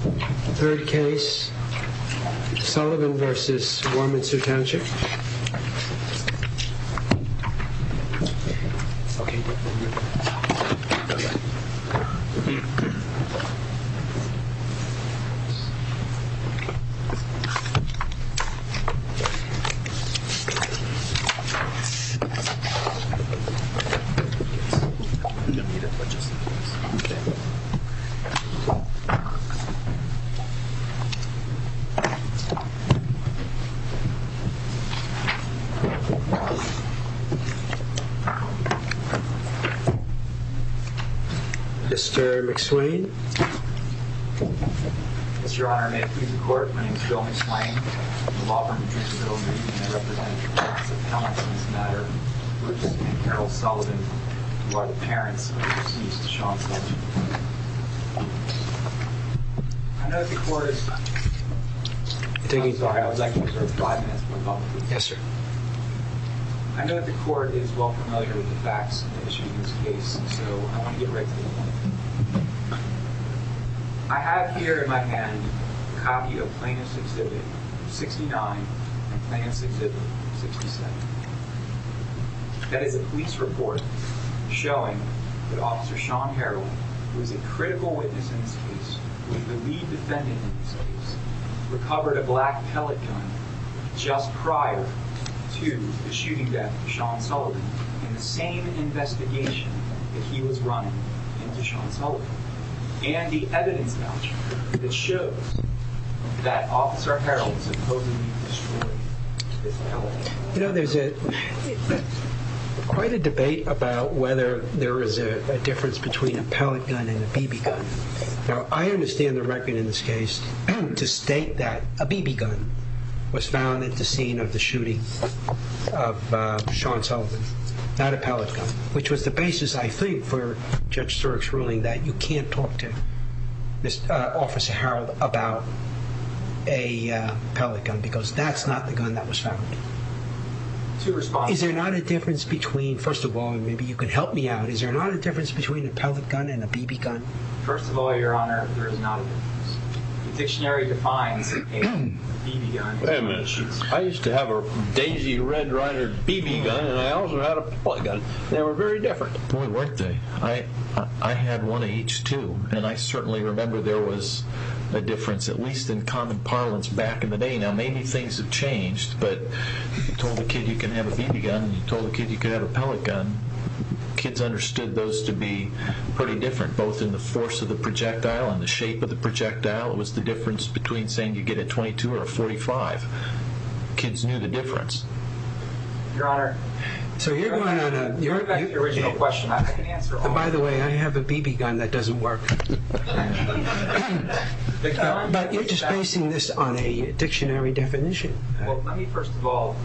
3rd case, Sullivan v. Warminster Township Mr. McSwain. Mr. Honor, may it please the court, my name is Bill McSwain. I represent the class of talents in this matter, which is Harold Sullivan, who are the parents of the deceased, Sean Sullivan. I know that the court is well familiar with the facts in this case, so I want to get right to the point. I have here in my hand a copy of Plaintiff's Exhibit 69 and Plaintiff's Exhibit 67. That is a police report showing that Officer Sean Harold, who is a critical witness in this case, who is the lead defendant in this case, recovered a black pellet gun just prior to the shooting death of Sean Sullivan in the same investigation that he was running into Sean Sullivan. And the evidence voucher that shows that Officer Harold supposedly destroyed this pellet gun. You know, there's quite a debate about whether there is a difference between a pellet gun and a BB gun. Now, I understand the record in this case to state that a BB gun was found at the scene of the shooting of Sean Sullivan, not a pellet gun. Which was the basis, I think, for Judge Stirk's ruling that you can't talk to Officer Harold about a pellet gun because that's not the gun that was found. Is there not a difference between, first of all, and maybe you can help me out, is there not a difference between a pellet gun and a BB gun? First of all, Your Honor, there is not a difference. The dictionary defines a BB gun as a pellet gun. I used to have a Daisy Red Ryder BB gun, and I also had a pellet gun. They were very different. Boy, weren't they? I had one of each, too, and I certainly remember there was a difference, at least in common parlance back in the day. Now, maybe things have changed, but you told a kid you can have a BB gun, and you told a kid you could have a pellet gun. Kids understood those to be pretty different, both in the force of the projectile and the shape of the projectile. It was the difference between saying you get a .22 or a .45. Kids knew the difference. Your Honor. So you're going on a... Go back to your original question. By the way, I have a BB gun that doesn't work. But you're just basing this on a dictionary definition. Well, let me first of all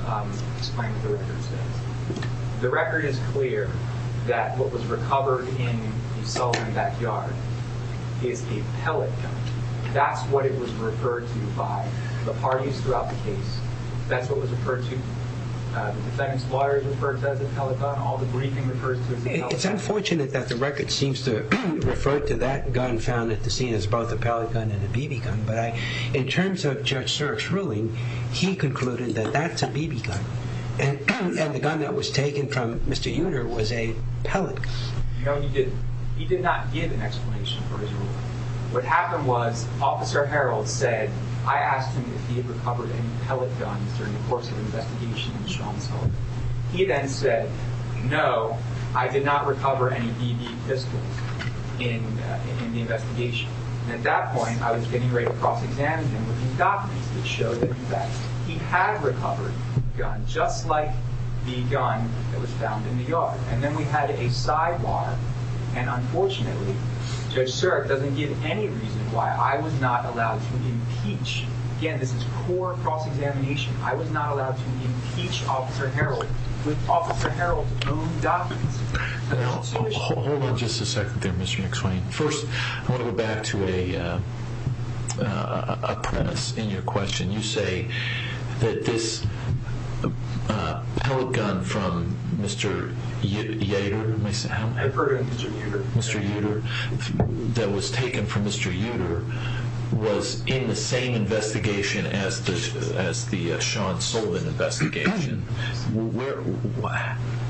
explain what the record says. The record is clear that what was recovered in the Sullivan backyard is a pellet gun. That's what it was referred to by the parties throughout the case. That's what it was referred to. The defense lawyers referred to it as a pellet gun. All the briefing refers to it as a pellet gun. It's unfortunate that the record seems to refer to that gun found at the scene as both a pellet gun and a BB gun. But in terms of Judge Sirk's ruling, he concluded that that's a BB gun, and the gun that was taken from Mr. Uter was a pellet gun. No, he didn't. He did not give an explanation for his ruling. What happened was Officer Harreld said, I asked him if he had recovered any pellet guns during the course of the investigation in Sean Sullivan. He then said, No, I did not recover any BB pistols in the investigation. At that point, I was getting ready to cross-examine him with his documents that showed that he had recovered a gun just like the gun that was found in the yard. And then we had a sidebar. And unfortunately, Judge Sirk doesn't give any reason why I was not allowed to impeach. Again, this is core cross-examination. I was not allowed to impeach Officer Harreld with Officer Harreld's own documents. Hold on just a second there, Mr. McSwain. First, I want to go back to a premise in your question. You say that this pellet gun from Mr. Uter. I've heard of Mr. Uter. Mr. Uter, that was taken from Mr. Uter, was in the same investigation as the Sean Sullivan investigation.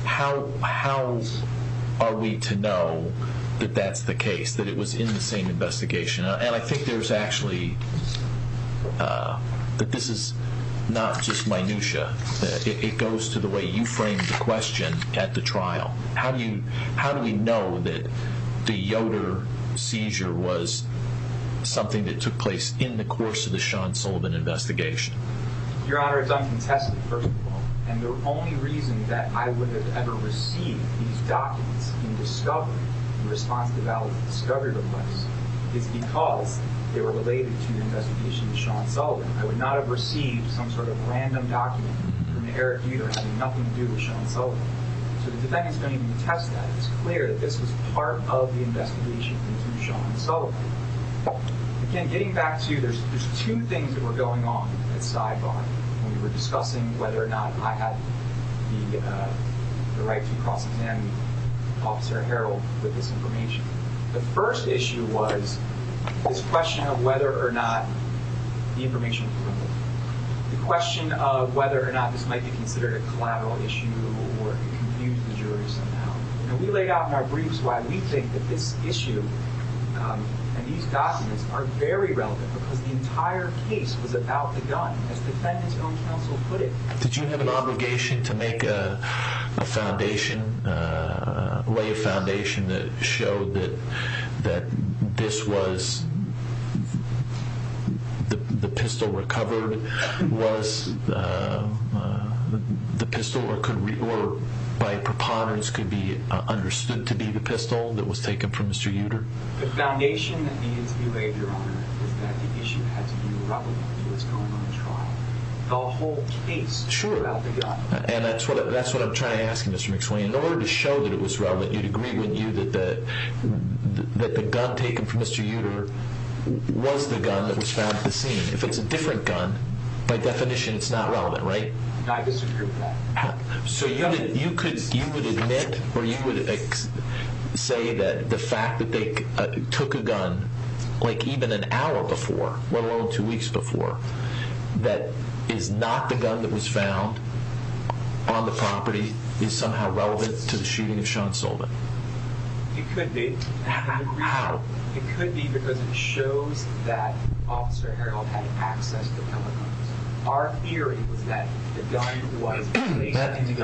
How are we to know that that's the case, that it was in the same investigation? And I think there's actually, that this is not just minutia. It goes to the way you framed the question at the trial. How do we know that the Yoder seizure was something that took place in the course of the Sean Sullivan investigation? Your Honor, it's uncontested, first of all. And the only reason that I would have ever received these documents in discovery, in response to the valid discovery request, is because they were related to the investigation of Sean Sullivan. I would not have received some sort of random document from Eric Uter having nothing to do with Sean Sullivan. So the defendants don't even attest to that. It's clear that this was part of the investigation into Sean Sullivan. Again, getting back to, there's two things that were going on at sidebar when we were discussing whether or not I had the right to cross-examine Officer Harrell with this information. The first issue was this question of whether or not the information was limited. The question of whether or not this might be considered a collateral issue or confuse the jury somehow. We laid out in our briefs why we think that this issue and these documents are very relevant, because the entire case was about the gun. As defendant's own counsel put it, Did you have an obligation to make a foundation, lay a foundation that showed that this was the pistol recovered, was the pistol, or by preponderance could be understood to be the pistol that was taken from Mr. Uter? The foundation that needed to be laid, Your Honor, was that the issue had to be relevant to what's going on in the trial. The whole case was about the gun. And that's what I'm trying to ask you, Mr. McSwain. In order to show that it was relevant, you'd agree with me that the gun taken from Mr. Uter was the gun that was found at the scene. If it's a different gun, by definition, it's not relevant, right? I disagree with that. So you would admit or you would say that the fact that they took a gun like even an hour before, let alone two weeks before, that is not the gun that was found on the property, is somehow relevant to the shooting of Sean Solman? It could be. How? It could be because it shows that Officer Harrell had access to telecoms. Our theory was that the gun was...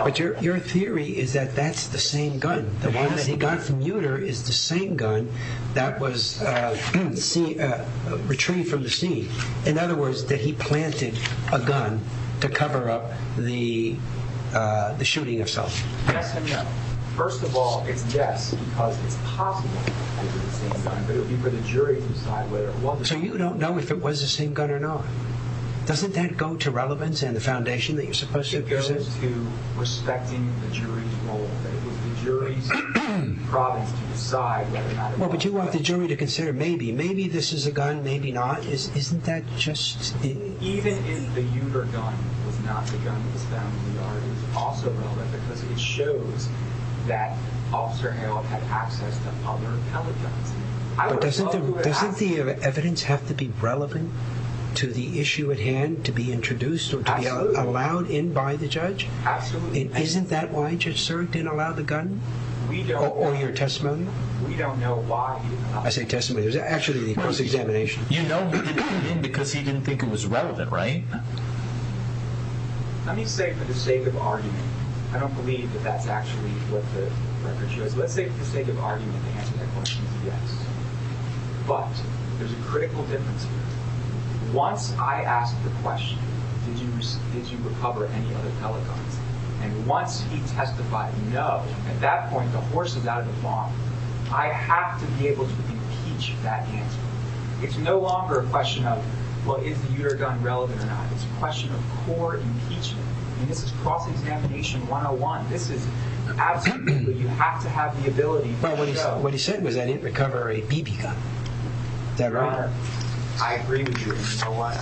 But your theory is that that's the same gun. The one that he got from Uter is the same gun that was retrieved from the scene. In other words, that he planted a gun to cover up the shooting of Solman. Yes and no. First of all, it's yes because it's possible it was the same gun, but it would be for the jury to decide whether it was. So you don't know if it was the same gun or not. Doesn't that go to relevance and the foundation that you're supposed to present? It goes to respecting the jury's role. It goes to the jury's province to decide whether or not it was. Well, but you want the jury to consider maybe. Maybe this is a gun, maybe not. Isn't that just... Even if the Uter gun was not the gun that was found in the yard, it was also relevant because it shows that Officer Harrell had access to other telecoms. But doesn't the evidence have to be relevant to the issue at hand to be introduced or to be allowed in by the judge? Absolutely. Isn't that why Judge Serk didn't allow the gun? Or your testimony? We don't know why he didn't allow it. I say testimony. It was actually a close examination. You know he didn't because he didn't think it was relevant, right? Let me say for the sake of argument, I don't believe that that's actually what the record shows. Let's say for the sake of argument, the answer to that question is yes. But there's a critical difference here. Once I ask the question, did you recover any other telecoms? And once he testified no, at that point the horse is out of the farm. I have to be able to impeach that answer. It's no longer a question of, well, is the Uter gun relevant or not? It's a question of core impeachment. And this is cross-examination 101. This is absolutely... You have to have the ability to show... But what he said was that he didn't recover a BB gun. Is that right? I agree with you. And you know what?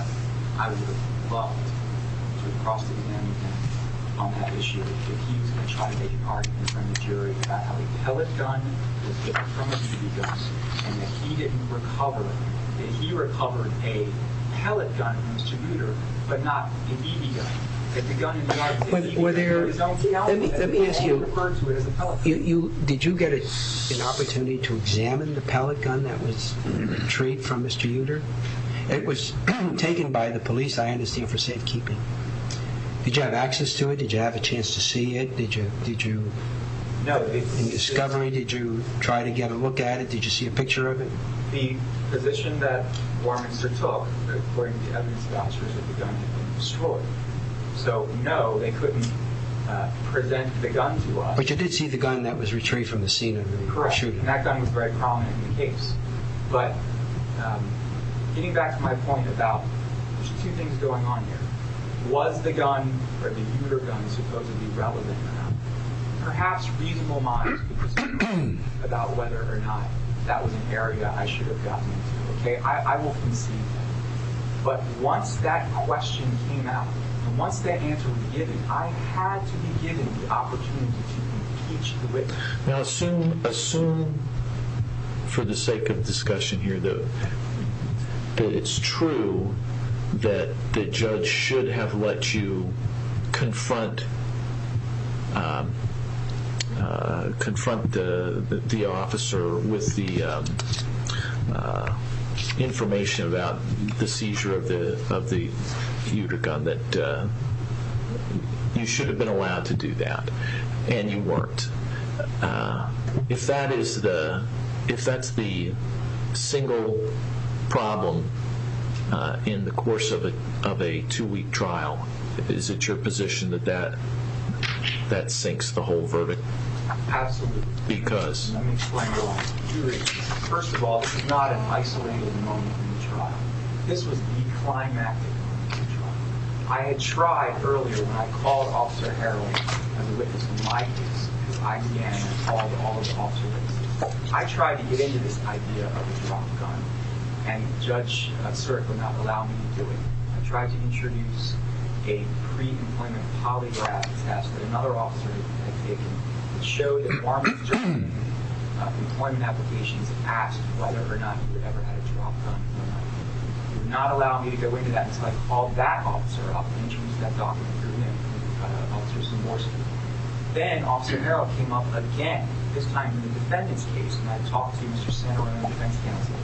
I would have loved to have cross-examined him on that issue. If he was going to try to make an argument in front of the jury about how a pellet gun was different from a BB gun and that he didn't recover, that he recovered a pellet gun from Mr. Uter, but not a BB gun. That the gun in the article... Let me ask you, did you get an opportunity to examine the pellet gun that was retrieved from Mr. Uter? It was taken by the police, I understand, for safekeeping. Did you have access to it? Did you have a chance to see it? Did you make a discovery? Did you try to get a look at it? Did you see a picture of it? The position that Warminster took, according to evidence vouchers, that the gun had been destroyed. So, no, they couldn't present the gun to us. But you did see the gun that was retrieved from the scene of the shooting. That gun was very prominent in the case. But getting back to my point about there's two things going on here. Was the gun, or the Uter gun, supposedly relevant or not? Perhaps reasonable minds could disagree about whether or not that was an area I should have gotten into. I will concede that. But once that question came out, and once that answer was given, I had to be given the opportunity to teach you it. Now assume, for the sake of discussion here, that it's true that the judge should have let you confront the officer with the information about the seizure of the Uter gun, that you should have been allowed to do that. And you weren't. If that's the single problem in the course of a two-week trial, is it your position that that sinks the whole verdict? Absolutely. Because? Let me explain why. First of all, this is not an isolated moment in the trial. This was the climactic moment in the trial. I had tried earlier when I called Officer Harrowing as a witness in my case, because I began to call to all of the officer witnesses. I tried to get into this idea of the drop gun, and Judge Sirk would not allow me to do it. I tried to introduce a pre-employment polygraph test that another officer had taken to show that farmers during the employment applications had asked whether or not he would ever have a drop gun or not. He would not allow me to go into that. So I called that officer up and introduced that document to him, and the officer was remorseful. Then Officer Harrowing came up again, this time in the defendant's case, and I talked to Mr. Sandor on the defense counsel,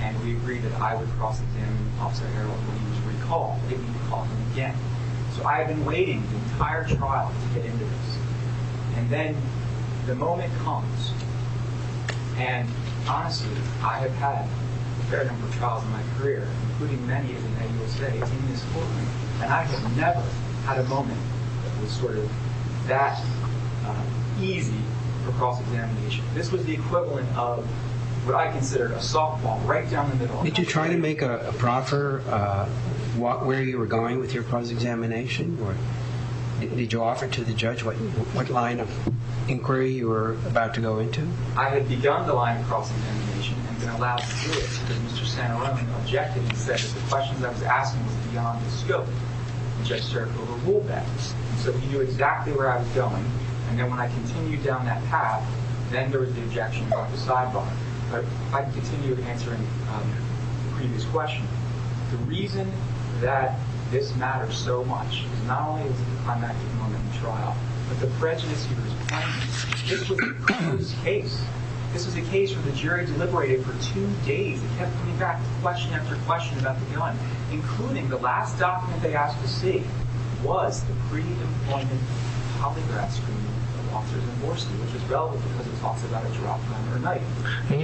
and we agreed that I would cross him, Officer Harrowing, when he was recalled. They didn't call him again. So I had been waiting the entire trial to get into this. And then the moment comes, and honestly, I have had a fair number of trials in my career, including many of the men you will see in this courtroom, and I have never had a moment that was sort of that easy for cross-examination. This was the equivalent of what I consider a softball right down the middle. Did you try to make a proffer where you were going with your cross-examination? Did you offer to the judge what line of inquiry you were about to go into? I had begun the line of cross-examination and been allowed to do it, but Mr. Sandor only objected and said that the questions I was asking was beyond the scope, which I served over rule bans. So he knew exactly where I was going, and then when I continued down that path, then there was the objection about the sidebar. But I continued answering the previous question. The reason that this matters so much is not only is it the climactic moment in the trial, but the prejudice he was pointing to. This was the Cruz case. This was a case where the jury deliberated for two days and kept coming back question after question about the gun, including the last document they asked to see was the pre-employment polygraph screening of officers in Morsi, which is relevant because it talks about a drop down or a knife. And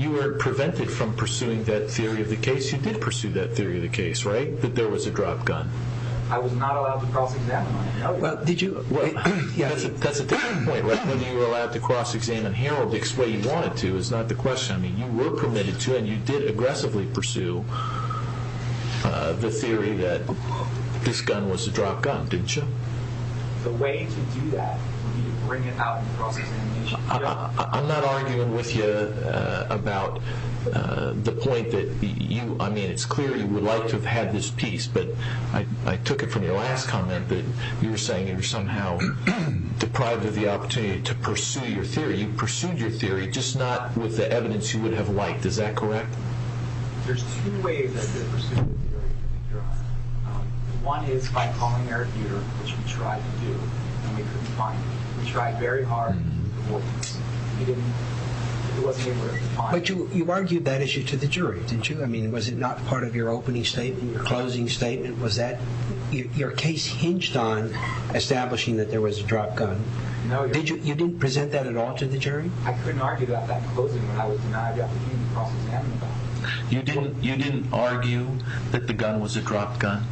you were prevented from pursuing that theory of the case. You did pursue that theory of the case, right? That there was a dropped gun. I was not allowed to cross-examine. That's a different point, right? Whether you were allowed to cross-examine Harold the way you wanted to is not the question. I mean, you were permitted to, and you did aggressively pursue the theory that this gun was a dropped gun, didn't you? The way to do that, when you bring it out in cross-examination... I'm not arguing with you about the point that you... I mean, it's clear you would like to have had this piece, but I took it from your last comment that you were saying you were somehow deprived of the opportunity to pursue your theory. You pursued your theory, just not with the evidence you would have liked. Is that correct? There's two ways I did pursue the theory. One is by calling Eric Utero, which we tried to do, and we couldn't find him. We tried very hard, and we couldn't find him. But you argued that issue to the jury, didn't you? I mean, was it not part of your opening statement, your closing statement? Was that... your case hinged on establishing that there was a dropped gun. You didn't present that at all to the jury? I couldn't argue about that in closing when I was denied the opportunity to cross-examine him. You didn't argue that the gun was a dropped gun?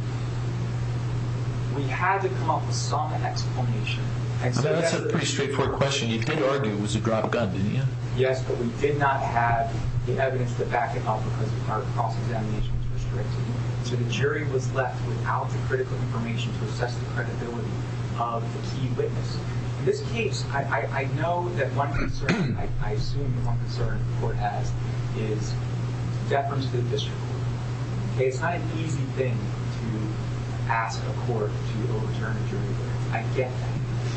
We had to come up with some explanation. I mean, that's a pretty straightforward question. You did argue it was a dropped gun, didn't you? Yes, but we did not have the evidence to back it up because our cross-examination was restricted. So the jury was left without the critical information to assess the credibility of the key witness. In this case, I know that one concern, I assume one concern the court has, is deference to the district court. It's not an easy thing to ask a court to overturn a jury verdict. I get that.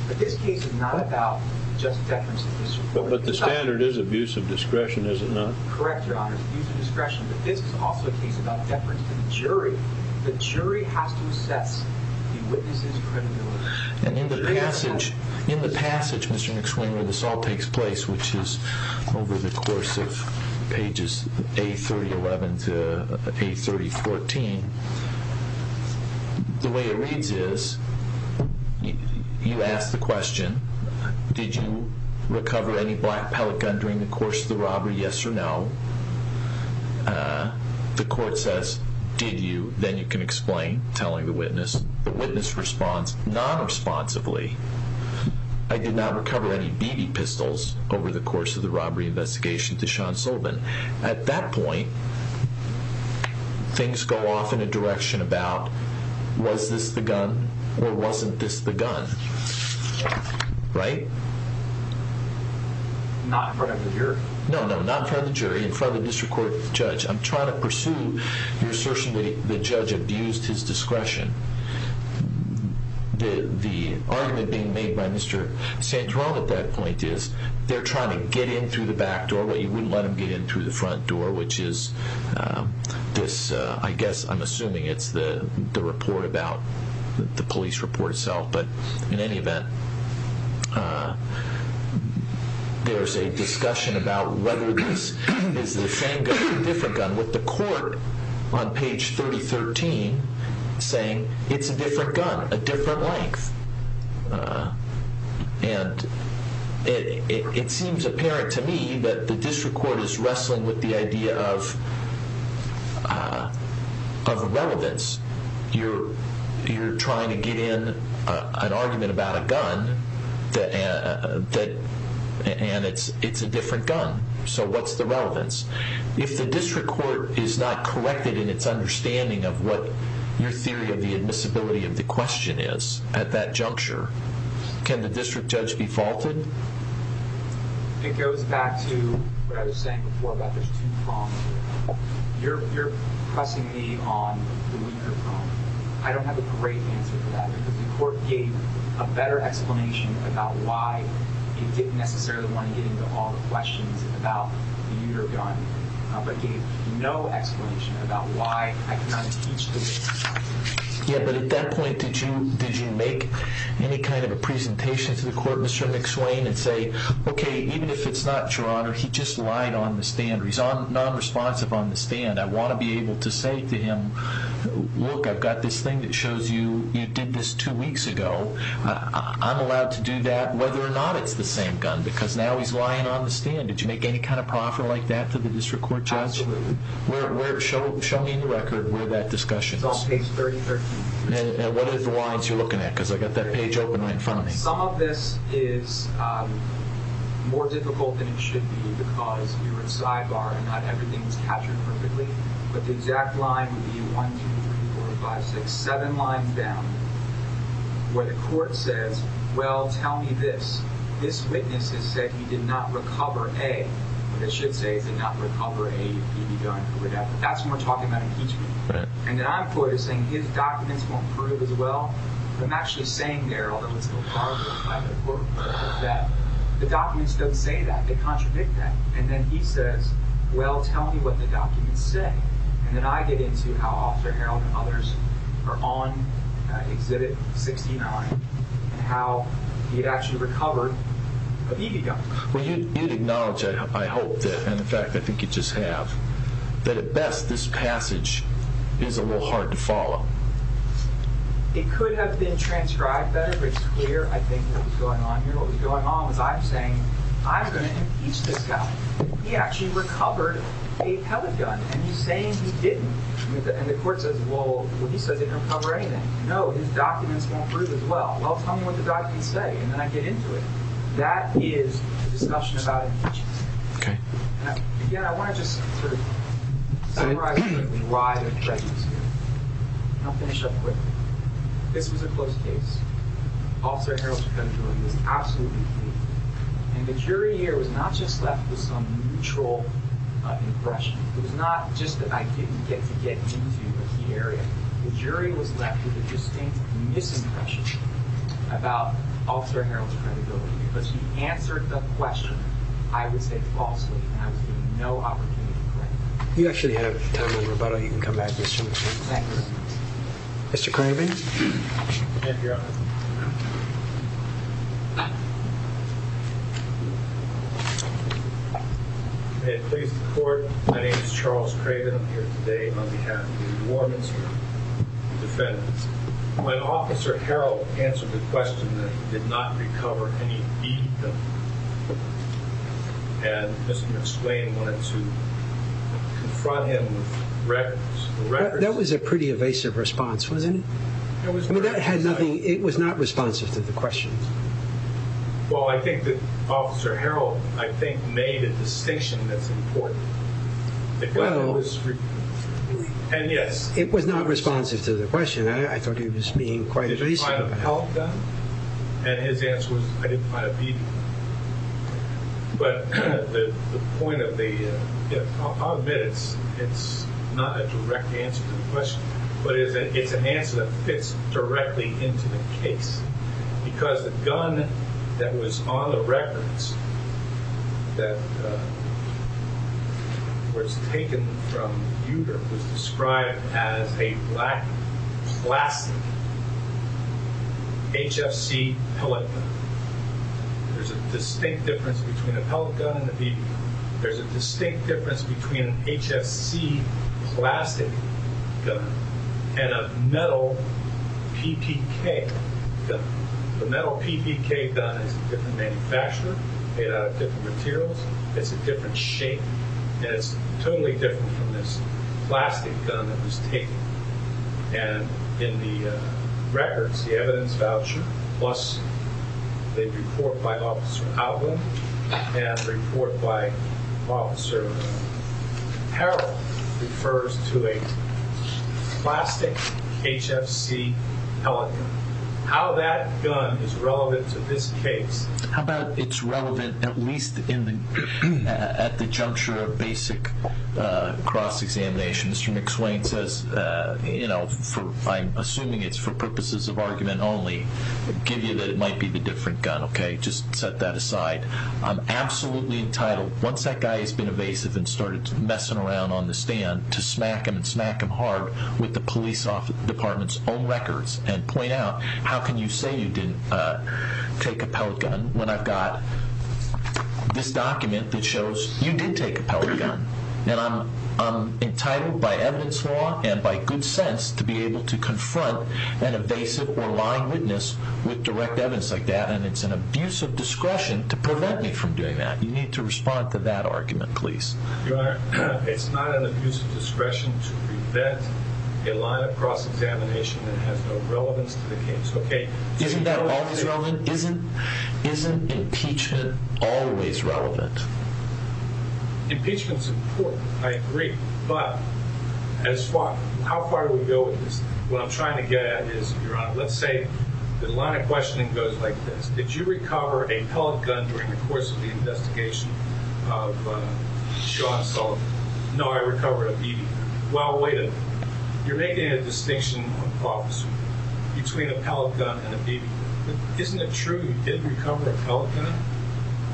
But this case is not about just deference to the district court. But the standard is abuse of discretion, is it not? Correct, Your Honor. It's abuse of discretion. But this is also a case about deference to the jury. The jury has to assess the witness's credibility. And in the passage, Mr. McSwain, where this all takes place, which is over the course of pages A3011 to A3014, the way it reads is you ask the question, did you recover any black pellet gun during the course of the robbery? Yes or no? The court says, did you? Then you can explain, telling the witness. The witness responds nonresponsively, I did not recover any BB pistols over the course of the robbery investigation to Sean Sullivan. At that point, things go off in a direction about, was this the gun or wasn't this the gun, right? Not in front of the jury. No, no, not in front of the jury. In front of the district court judge. I'm trying to pursue your assertion that the judge abused his discretion. The argument being made by Mr. Santorum at that point is, they're trying to get in through the back door, but you wouldn't let them get in through the front door, which is this, I guess, I'm assuming it's the report about, the police report itself. But in any event, there's a discussion about whether this is the same gun or a different gun with the court on page 3013 saying, it's a different gun, a different length. It seems apparent to me that the district court is wrestling with the idea of relevance. You're trying to get in an argument about a gun and it's a different gun. So what's the relevance? If the district court is not corrected in its understanding of what your theory of the admissibility of the question is at that juncture, can the district judge be faulted? It goes back to what I was saying before about there's two prongs. You're pressing me on the weaker prong. I don't have a great answer for that because the court gave a better explanation about why it didn't necessarily want to get into all the questions about your gun, but gave no explanation about why I cannot accuse you. At that point, did you make any kind of a presentation to the court, Mr. McSwain, and say, okay, even if it's not your honor, he just lied on the stand. He's nonresponsive on the stand. I want to be able to say to him, look, I've got this thing that shows you you did this two weeks ago. I'm allowed to do that whether or not it's the same gun because now he's lying on the stand. Did you make any kind of proffer like that to the district court judge? Absolutely. Show me in the record where that discussion is. It's on page 3013. What are the lines you're looking at because I've got that page open right in front of me. Some of this is more difficult than it should be because you're in sidebar and not everything is captured perfectly, but the exact line would be one, two, three, four, five, six, seven lines down where the court says, well, tell me this. This witness has said he did not recover a, but it should say he did not recover a gun or whatever. That's when we're talking about impeachment. And then I'm quoted as saying his documents won't prove as well. But I'm actually saying there, although it's still part of the court, that the documents don't say that. They contradict that. And then he says, well, tell me what the documents say. And then I get into how Officer Harold and others are on exhibit 69 and how he had actually recovered a BB gun. Well, you'd acknowledge, I hope, and in fact, I think you just have, that at best this passage is a little hard to follow. It could have been transcribed better, but it's clear, I think, what was going on here. What was going on was I'm saying I'm going to impeach this guy. He actually recovered a pellet gun. And he's saying he didn't. And the court says, well, he says it didn't recover anything. No, his documents won't prove as well. Well, tell me what the documents say. And then I get into it. That is a discussion about impeachment. Okay. Again, I want to just sort of summarize the rise of prejudice here. And I'll finish up quickly. This was a close case. Officer Harold was absolutely clean. And the jury here was not just left with some neutral impression. It was not just that I didn't get to get into a key area. The jury was left with a distinct misimpression about Officer Harold's credibility. Because he answered the question, I would say, falsely. And I was given no opportunity to correct him. You actually have time for rebuttal. You can come back to this gentleman. Thank you. Mr. Craven. Thank you, Your Honor. May it please the Court. My name is Charles Craven. I'm here today on behalf of the War Ministry and the defendants. When Officer Harold answered the question that he did not recover any deed, and Mr. McSwain wanted to confront him with records. That was a pretty evasive response, wasn't it? I mean, that had nothing. It was not responsive to the question. Well, I think that Officer Harold, I think, made a distinction that's important. Well, it was not responsive to the question. I thought he was being quite evasive. Did you find a held gun? And his answer was, I didn't find a deed. But the point of the, I'll admit it's not a direct answer to the question. But it's an answer that fits directly into the case. Because the gun that was on the records, that was taken from Uter, was described as a black plastic HFC pellet gun. There's a distinct difference between a pellet gun and a BB gun. There's a distinct difference between an HFC plastic gun and a metal PPK gun. The metal PPK gun is a different manufacturer, made out of different materials. It's a different shape. And it's totally different from this plastic gun that was taken. And in the records, the evidence voucher, plus the report by Officer Outland and report by Officer Harrell, refers to a plastic HFC pellet gun. How that gun is relevant to this case. How about it's relevant at least at the juncture of basic cross-examination. Mr. McSwain says, I'm assuming it's for purposes of argument only, give you that it might be the different gun. Okay, just set that aside. I'm absolutely entitled, once that guy has been evasive and started messing around on the stand, to smack him and smack him hard with the police department's own records and point out how can you say you didn't take a pellet gun when I've got this document that shows you did take a pellet gun. And I'm entitled by evidence law and by good sense to be able to confront an evasive or lying witness with direct evidence like that. And it's an abuse of discretion to prevent me from doing that. You need to respond to that argument, please. Your Honor, it's not an abuse of discretion to prevent a line of cross-examination that has no relevance to the case. Isn't that always relevant? Isn't impeachment always relevant? Impeachment's important, I agree. But how far do we go with this? What I'm trying to get at is, Your Honor, let's say the line of questioning goes like this. Did you recover a pellet gun during the course of the investigation of Sean Sullivan? No, I recovered a BB gun. Well, wait a minute. You're making a distinction, Officer, between a pellet gun and a BB gun. Isn't it true you did recover a pellet gun?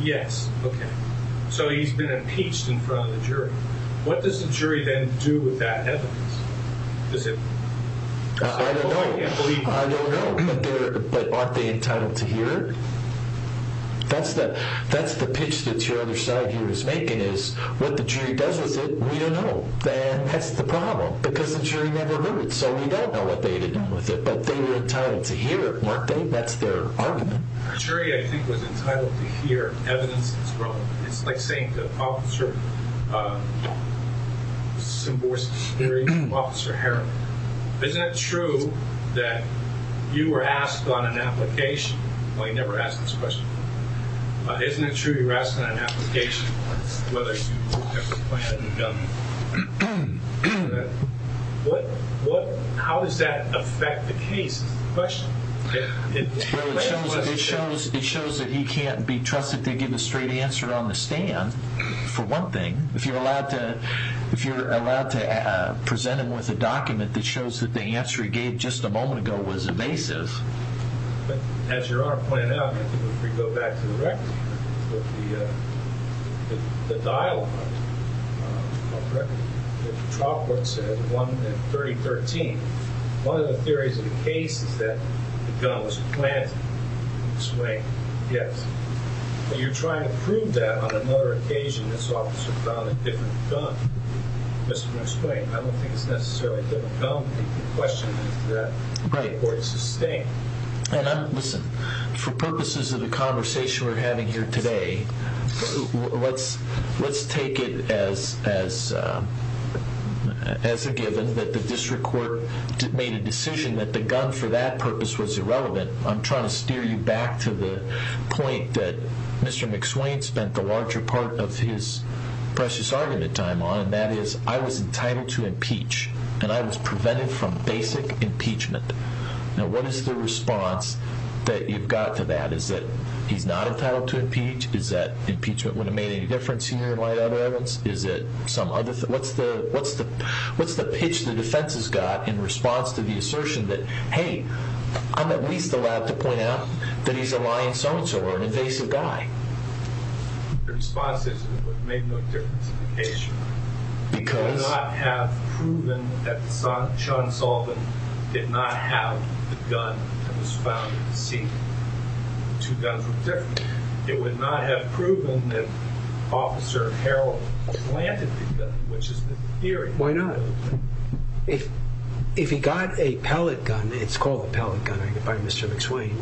Yes. Okay. So he's been impeached in front of the jury. What does the jury then do with that evidence? I don't know. I don't know. But aren't they entitled to hear it? That's the pitch that your other side here is making is, what the jury does with it, we don't know. That's the problem because the jury never knew it, so we don't know what they did with it. But they were entitled to hear it, weren't they? That's their argument. The jury, I think, was entitled to hear evidence that's wrong. It's like saying to Officer Seboer's jury, Officer Harriman, isn't it true that you were asked on an application? Well, he never asked this question. Isn't it true you were asked on an application whether you have a pellet gun? How does that affect the case? It's a question. Well, it shows that he can't be trusted to give a straight answer on the stand, for one thing. If you're allowed to present him with a document that shows that the answer he gave just a moment ago was evasive. As Your Honor pointed out, if we go back to the record, the dialogue on the record that the trial court said in 3013, one of the theories of the case is that the gun was planted. Ms. Wayne, yes. But you're trying to prove that on another occasion this officer found a different gun. Mr. McSwain, I don't think it's necessarily a different gun. The question is that the report is sustained. Listen, for purposes of the conversation we're having here today, let's take it as a given that the district court made a decision that the gun for that purpose was irrelevant. I'm trying to steer you back to the point that Mr. McSwain spent the larger part of his precious argument time on, and that is I was entitled to impeach, and I was prevented from basic impeachment. Now, what is the response that you've got to that? Is it he's not entitled to impeach? Is that impeachment would have made any difference here in light of other evidence? Is it some other thing? What's the pitch the defense has got in response to the assertion that, hey, I'm at least allowed to point out that he's a lying so-and-so or an invasive guy? The response is it would have made no difference in the case. Because? It would not have proven that John Sullivan did not have the gun that was found at the scene. Two guns were different. It would not have proven that Officer Harrell planted the gun, which is the theory. Why not? If he got a pellet gun, it's called a pellet gun by Mr. McSwain,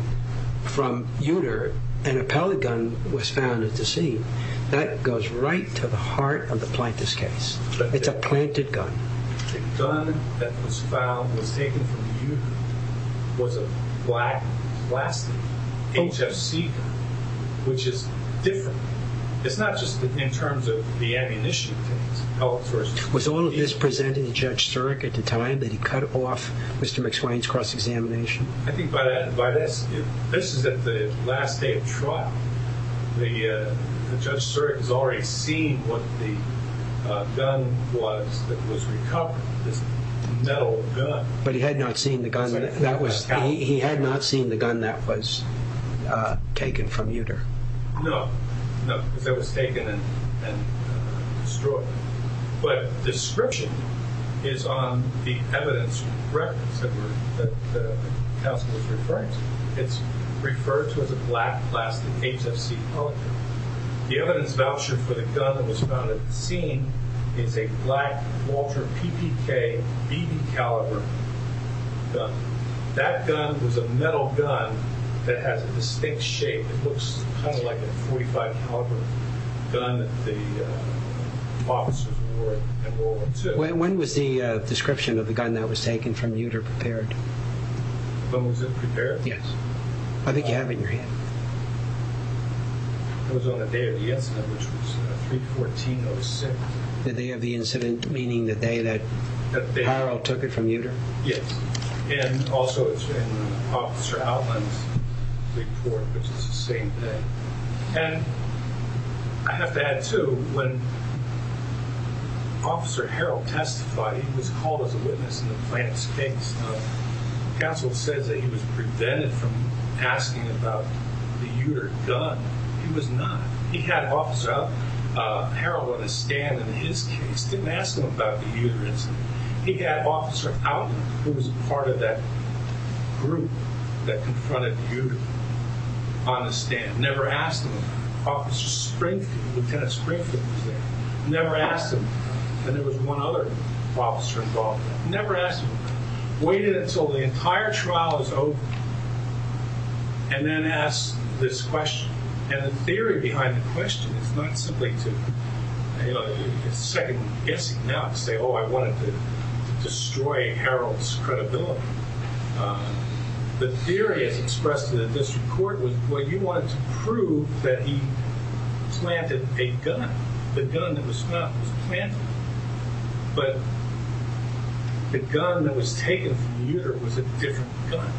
from Uter, and a pellet gun was found at the scene, that goes right to the heart of the plaintiff's case. It's a planted gun. The gun that was found, was taken from Uter, was a black plastic HFC gun, which is different. It's not just in terms of the ammunition case. Was all of this presented to Judge Surik at the time that he cut off Mr. McSwain's cross-examination? I think by this, this is at the last day of trial. The Judge Surik has already seen what the gun was that was recovered, this metal gun. But he had not seen the gun that was taken from Uter? No. No, because it was taken and destroyed. But description is on the evidence records that the counsel was referring to. It's referred to as a black plastic HFC pellet gun. The evidence voucher for the gun that was found at the scene is a black Walter PPK BB caliber gun. That gun was a metal gun that has a distinct shape. It looks kind of like a .45 caliber gun that the officers wore at World War II. When was the description of the gun that was taken from Uter prepared? When was it prepared? Yes. I think you have it in your hand. It was on the day of the incident, which was 3-14-06. The day of the incident, meaning the day that Harrell took it from Uter? Yes. And also it's in Officer Outland's report, which is the same day. And I have to add, too, when Officer Harrell testified, he was called as a witness in the Plants case. The counsel says that he was prevented from asking about the Uter gun. He was not. He had Officer Harrell on a stand in his case. Didn't ask him about the Uter incident. He had Officer Outland, who was part of that group that confronted Uter, on the stand. Never asked him. Officer Springfield, Lieutenant Springfield, was there. Never asked him. And there was one other officer involved. Never asked him. Waited until the entire trial was over, and then asked this question. And the theory behind the question is not simply to, you know, it's second-guessing now, to say, oh, I wanted to destroy Harrell's credibility. The theory as expressed in this report was, well, you wanted to prove that he planted a gun. The gun that was found was planted. But the gun that was taken from Uter was a different gun.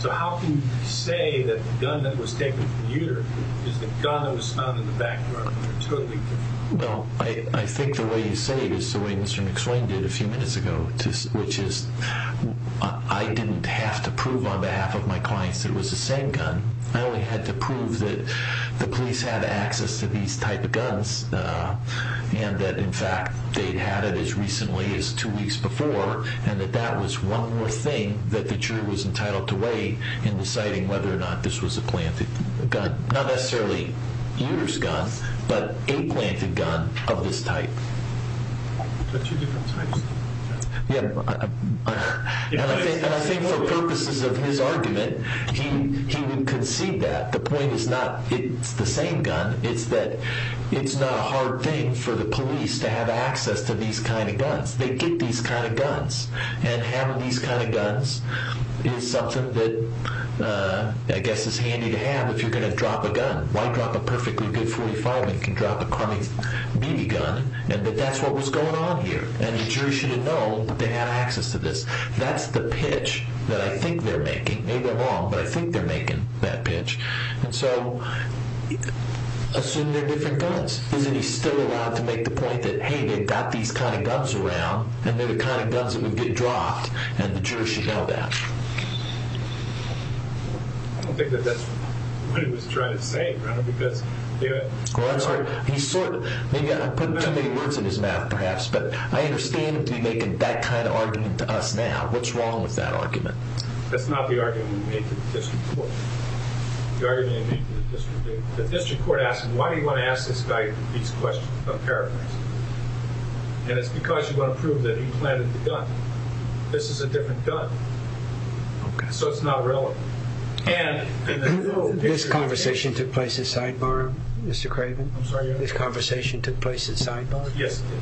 So how can you say that the gun that was taken from Uter is the gun that was found in the background? They're totally different. Well, I think the way you say it is the way Mr. McSwain did a few minutes ago, which is I didn't have to prove on behalf of my clients that it was the same gun. I only had to prove that the police had access to these type of guns and that, in fact, they'd had it as recently as two weeks before and that that was one more thing that the jury was entitled to weigh in deciding whether or not this was a planted gun. Not necessarily Uter's gun, but a planted gun of this type. And I think for purposes of his argument, he would concede that. The point is not it's the same gun. It's that it's not a hard thing for the police to have access to these kind of guns. They get these kind of guns. And having these kind of guns is something that, I guess, is handy to have if you're going to drop a gun. Why drop a perfectly good .45 when you can drop a carbine BB gun? But that's what was going on here. And the jury should have known that they had access to this. That's the pitch that I think they're making. Maybe they're wrong, but I think they're making that pitch. And so assume they're different guns. Isn't he still allowed to make the point that, hey, they've got these kind of guns around and they're the kind of guns that would get dropped, and the jury should know that? I don't think that that's what he was trying to say, because... Well, I'm sorry. He's sort of... I put too many words in his mouth, perhaps. But I understand him to be making that kind of argument to us now. What's wrong with that argument? That's not the argument he made to the district court. The argument he made to the district... The district court asked him, why do you want to ask this guy these questions about carbines? And it's because you want to prove that he planted the gun. This is a different gun. So it's not relevant. And... This conversation took place at sidebar, Mr. Craven? I'm sorry? This conversation took place at sidebar? Yes, it did.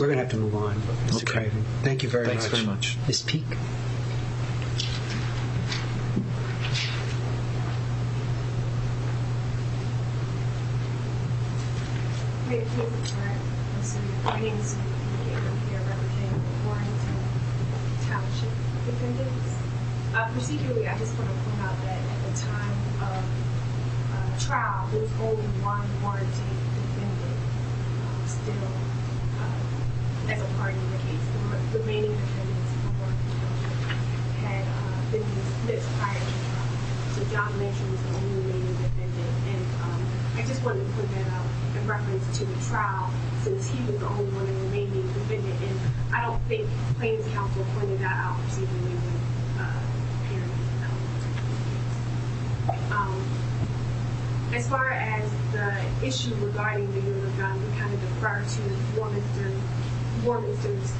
We're going to have to move on, Mr. Craven. Thank you very much. Thanks very much. Ms. Peek? Ms. Peek? Hi, can you hear me all right? My name is Ms. Peek. I'm here representing the Warrington Township defendants. Procedurally, I just want to point out that at the time of trial, there was only one Warrington defendant still as a part of the case. The remaining defendants had been dismissed prior to trial. So John Mitchell was the only remaining defendant. And I just wanted to point that out in reference to the trial, since he was the only one remaining defendant. And I don't think Plaintiff's Counsel pointed that out. It's either me or the parents. As far as the issue regarding the Yoder gun, we kind of defer to Warrington's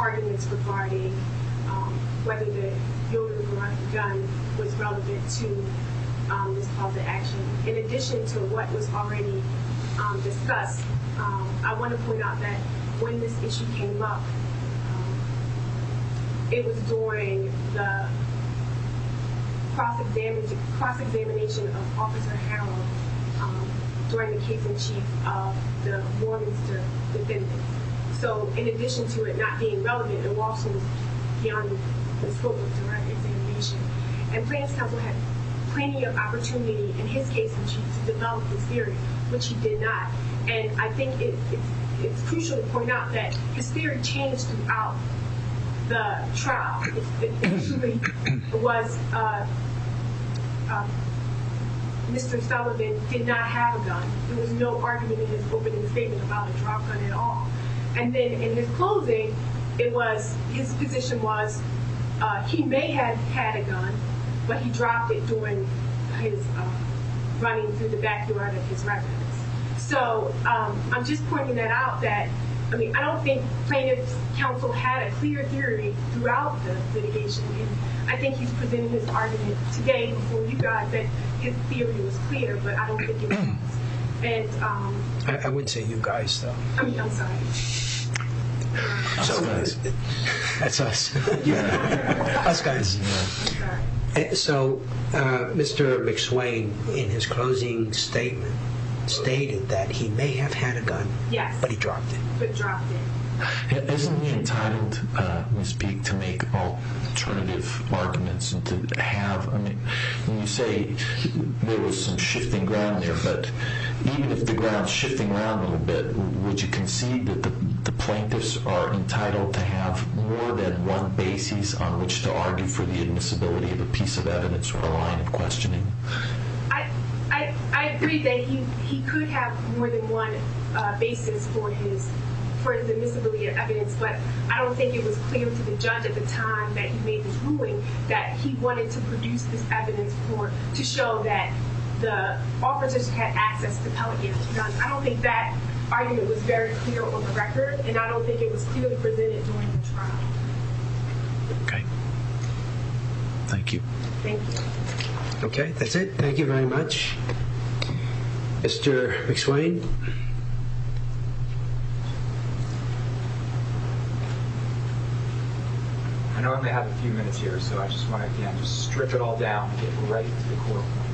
arguments regarding whether the Yoder gun was relevant to this cause of action. In addition to what was already discussed, I want to point out that when this issue came up, it was during the cross-examination of Officer Harrell during the case in chief of the Warrington defendants. So in addition to it not being relevant, it was also beyond the scope of direct examination. And Plaintiff's Counsel had plenty of opportunity in his case in chief to develop this theory, which he did not. And I think it's crucial to point out that his theory changed throughout the trial. It was Mr. Sullivan did not have a gun. There was no argument in his opening statement about a drop gun at all. And then in his closing, his position was he may have had a gun, but he dropped it during his running through the backyard of his residence. So I'm just pointing that out. I don't think Plaintiff's Counsel had a clear theory throughout the litigation. I think he's presenting his argument today before you guys that his theory was clear, but I don't think it was. I wouldn't say you guys, though. So Mr. McSwain, in his closing statement, stated that he may have had a gun, but he dropped it. Isn't he entitled, Ms. Peek, to make alternative arguments? When you say there was some shifting ground there, but even if the ground's shifting around a little bit, would you concede that the plaintiffs are entitled to have more than one basis on which to argue for the admissibility of a piece of evidence or a line of questioning? I agree that he could have more than one basis for his admissibility of evidence, but I don't think it was clear to the judge at the time that he made this ruling that he wanted to produce this evidence to show that the officers had access to pellet guns. I don't think that argument was very clear on the record, and I don't think it was clearly presented during the trial. Okay. Thank you. Thank you. Okay, that's it. Thank you very much. Mr. McSwain. I know I only have a few minutes here, so I just want to, again, just strip it all down and get right to the core point.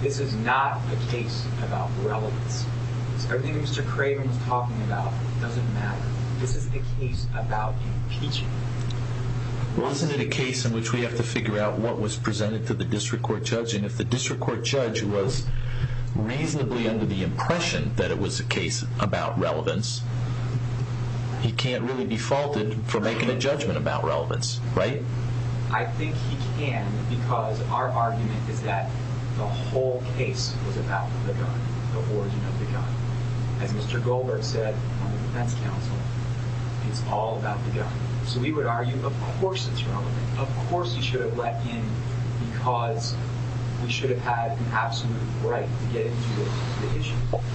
This is not a case about relevance. Everything Mr. Craven was talking about doesn't matter. This is a case about impeachment. Wasn't it a case in which we have to figure out what was presented to the district court judge, and if the district court judge was reasonably under the impression that it was a case about relevance, he can't really be faulted for making a judgment about relevance, right? I think he can because our argument is that the whole case was about the gun, the origin of the gun. As Mr. Goldberg said on the defense counsel, it's all about the gun. So we would argue, of course it's relevant. Of course he should have let in because we should have had an absolute right to get into the issue.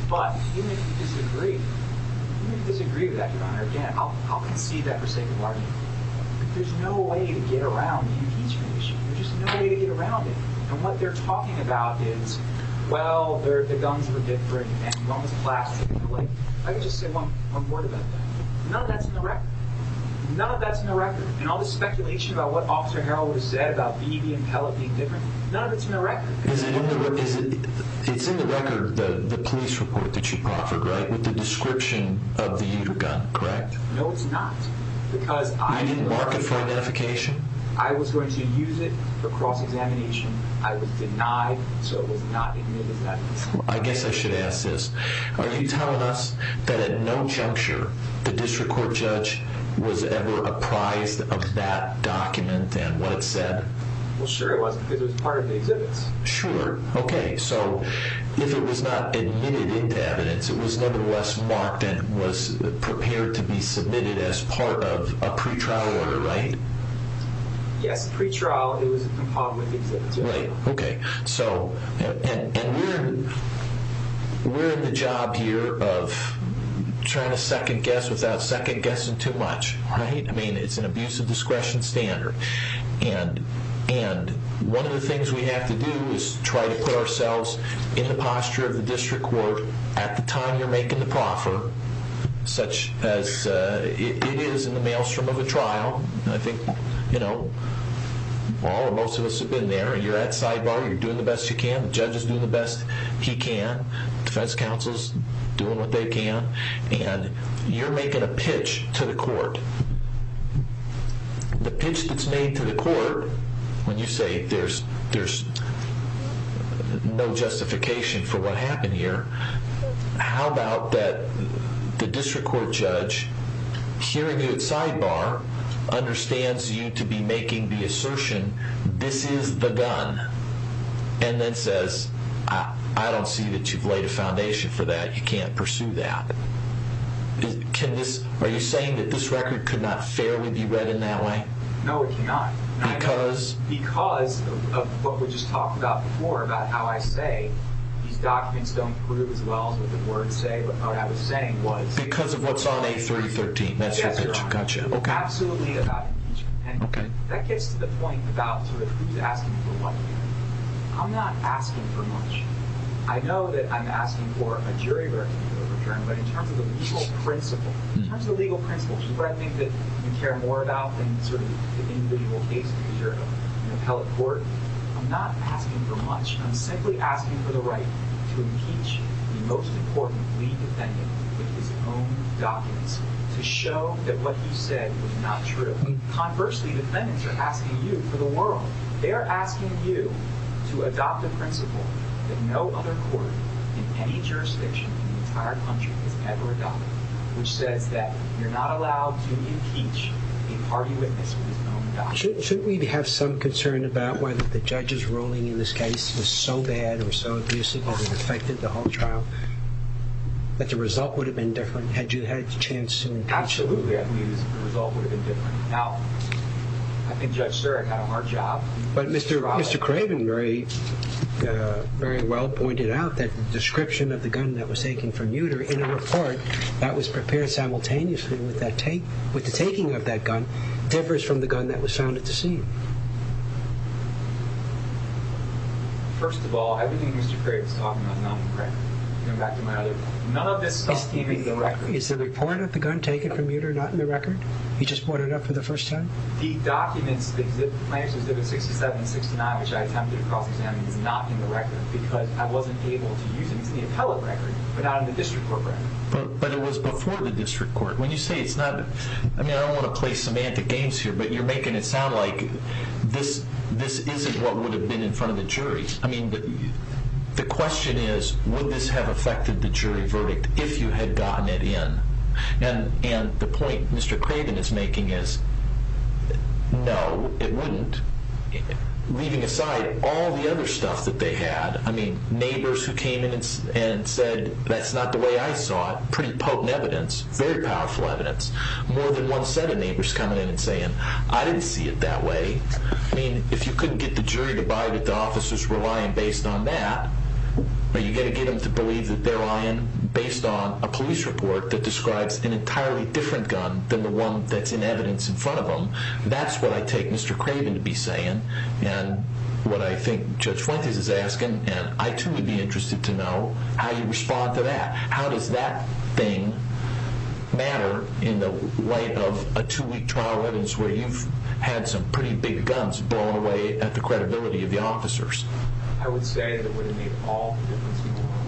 But even if you disagree, even if you disagree with that, Your Honor, again, I'll concede that for sake of argument. There's no way to get around the impeachment issue. There's just no way to get around it. And what they're talking about is, well, the guns were different and one was plastic. I can just say one word about that. None of that's in the record. None of that's in the record. And all the speculation about what Officer Harrell would have said about Beebe and Pellett being different, none of it's in the record. It's in the record, the police report that you proffered, right, with the description of the gun, correct? You didn't mark it for identification. I was going to use it for cross-examination. I was denied so it was not admitted to evidence. I guess I should ask this. Are you telling us that at no juncture the district court judge was ever apprised of that document and what it said? Well, sure it was because it was part of the exhibits. Sure. Okay. So if it was not admitted into evidence, it was nevertheless marked and was prepared to be submitted as part of a pretrial order, right? Yes, pretrial. It was a part of the exhibits. Right. Okay. So we're in the job here of trying to second guess without second guessing too much, right? I mean, it's an abuse of discretion standard. And one of the things we have to do is try to put ourselves in the posture of the district court at the time you're making the proffer, such as it is in the maelstrom of a trial. I think, you know, all or most of us have been there. You're at sidebar. You're doing the best you can. The judge is doing the best he can. Defense counsel is doing what they can. And you're making a pitch to the court. The pitch that's made to the court, when you say there's no justification for what happened here, how about that the district court judge, hearing you at sidebar, understands you to be making the assertion, this is the gun, and then says, I don't see that you've laid a foundation for that. You can't pursue that. Are you saying that this record could not fairly be read in that way? No, it cannot. Because? Because of what we just talked about before, about how I say these documents don't prove as well as what the words say, what I was saying was... Because of what's on A313. Yes, Your Honor. Absolutely about impeachment. And that gets to the point about sort of who's asking for what here. I'm not asking for much. I know that I'm asking for a jury verdict to be overturned, but in terms of the legal principle, which is what I think that we care more about than sort of the individual case because you're an appellate court, I'm not asking for much. I'm simply asking for the right to impeach the most important lead defendant with his own documents to show that what he said was not true. Conversely, defendants are asking you for the world. They are asking you to adopt a principle that no other court in any jurisdiction in the entire country has ever adopted, which says that you're not allowed to impeach a party witness with his own documents. Shouldn't we have some concern about whether the judge's ruling in this case was so bad or so abusive that it affected the whole trial, that the result would have been different had you had the chance to impeach him? Absolutely. I mean, the result would have been different. Now, I think Judge Sterak did a hard job. But Mr. Craven very well pointed out that the description of the gun that was taken from Uter in a report that was prepared simultaneously with the taking of that gun differs from the gun that was found at the scene. First of all, everything Mr. Craven is talking about is not in the record. None of this stuff is in the record. Is the report of the gun taken from Uter not in the record? He just brought it up for the first time? The documents, the plaintiff's exhibit 67 and 69, which I attempted to cross-examine, is not in the record because I wasn't able to use it. It's in the appellate record, but not in the district court record. But it was before the district court. When you say it's not, I mean, I don't want to play semantic games here, but you're making it sound like this isn't what would have been in front of the jury. I mean, the question is, would this have affected the jury verdict if you had gotten it in? And the point Mr. Craven is making is, no, it wouldn't, leaving aside all the other stuff that they had. I mean, neighbors who came in and said, that's not the way I saw it, pretty potent evidence, very powerful evidence. More than one set of neighbors coming in and saying, I didn't see it that way. I mean, if you couldn't get the jury to buy that the officers were lying based on that, are you going to get them to believe that they're lying based on a police report that describes an entirely different gun than the one that's in evidence in front of them? That's what I take Mr. Craven to be saying and what I think Judge Fuentes is asking, and I, too, would be interested to know how you respond to that. How does that thing matter in the light of a two-week trial evidence where you've had some pretty big guns blown away at the credibility of the officers? I would say that it would have made all the difference in the world.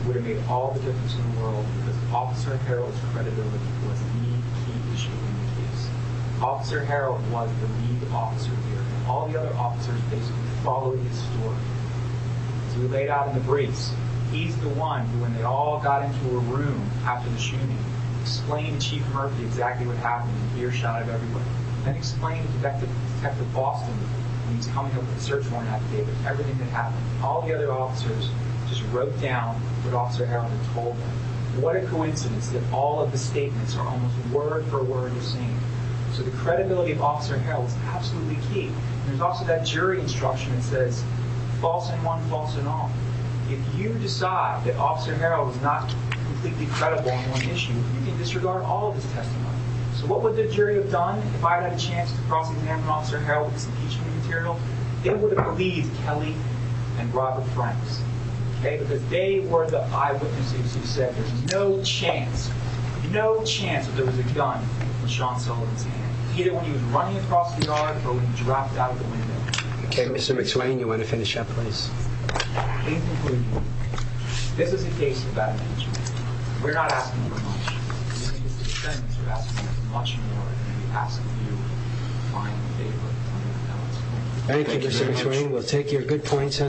It would have made all the difference in the world because Officer Harrell's credibility was the key issue in the case. Officer Harrell was the lead officer here. All the other officers basically followed his story. So we laid out in the briefs, he's the one who, when they all got into a room after the shooting, explained to Chief Murphy exactly what happened and earshotted everyone and explained to Detective Boston, when he was coming up with the search warrant, everything that happened. All the other officers just wrote down what Officer Harrell had told them. What a coincidence that all of the statements are almost word for word the same. So the credibility of Officer Harrell is absolutely key. There's also that jury instruction that says, false in one, false in all. If you decide that Officer Harrell is not completely credible on one issue, you can disregard all of his testimony. So what would the jury have done if I had had a chance to cross-examine Officer Harrell with this impeachment material? They would have believed Kelly and Robert Franks. Because they were the eyewitnesses who said there's no chance, no chance that there was a gun in Sean Sullivan's hand. Either when he was running across the yard or when he dropped out of the window. Okay, Mr. McSwain, you want to finish up, please? Thank you, Mr. McSwain. This is a case of bad management. We're not asking for much. Many of the defendants are asking for much more than we ask of you. I'm in favor of $100,000. Thank you very much. Thank you, Mr. McSwain. We'll take your good points on that.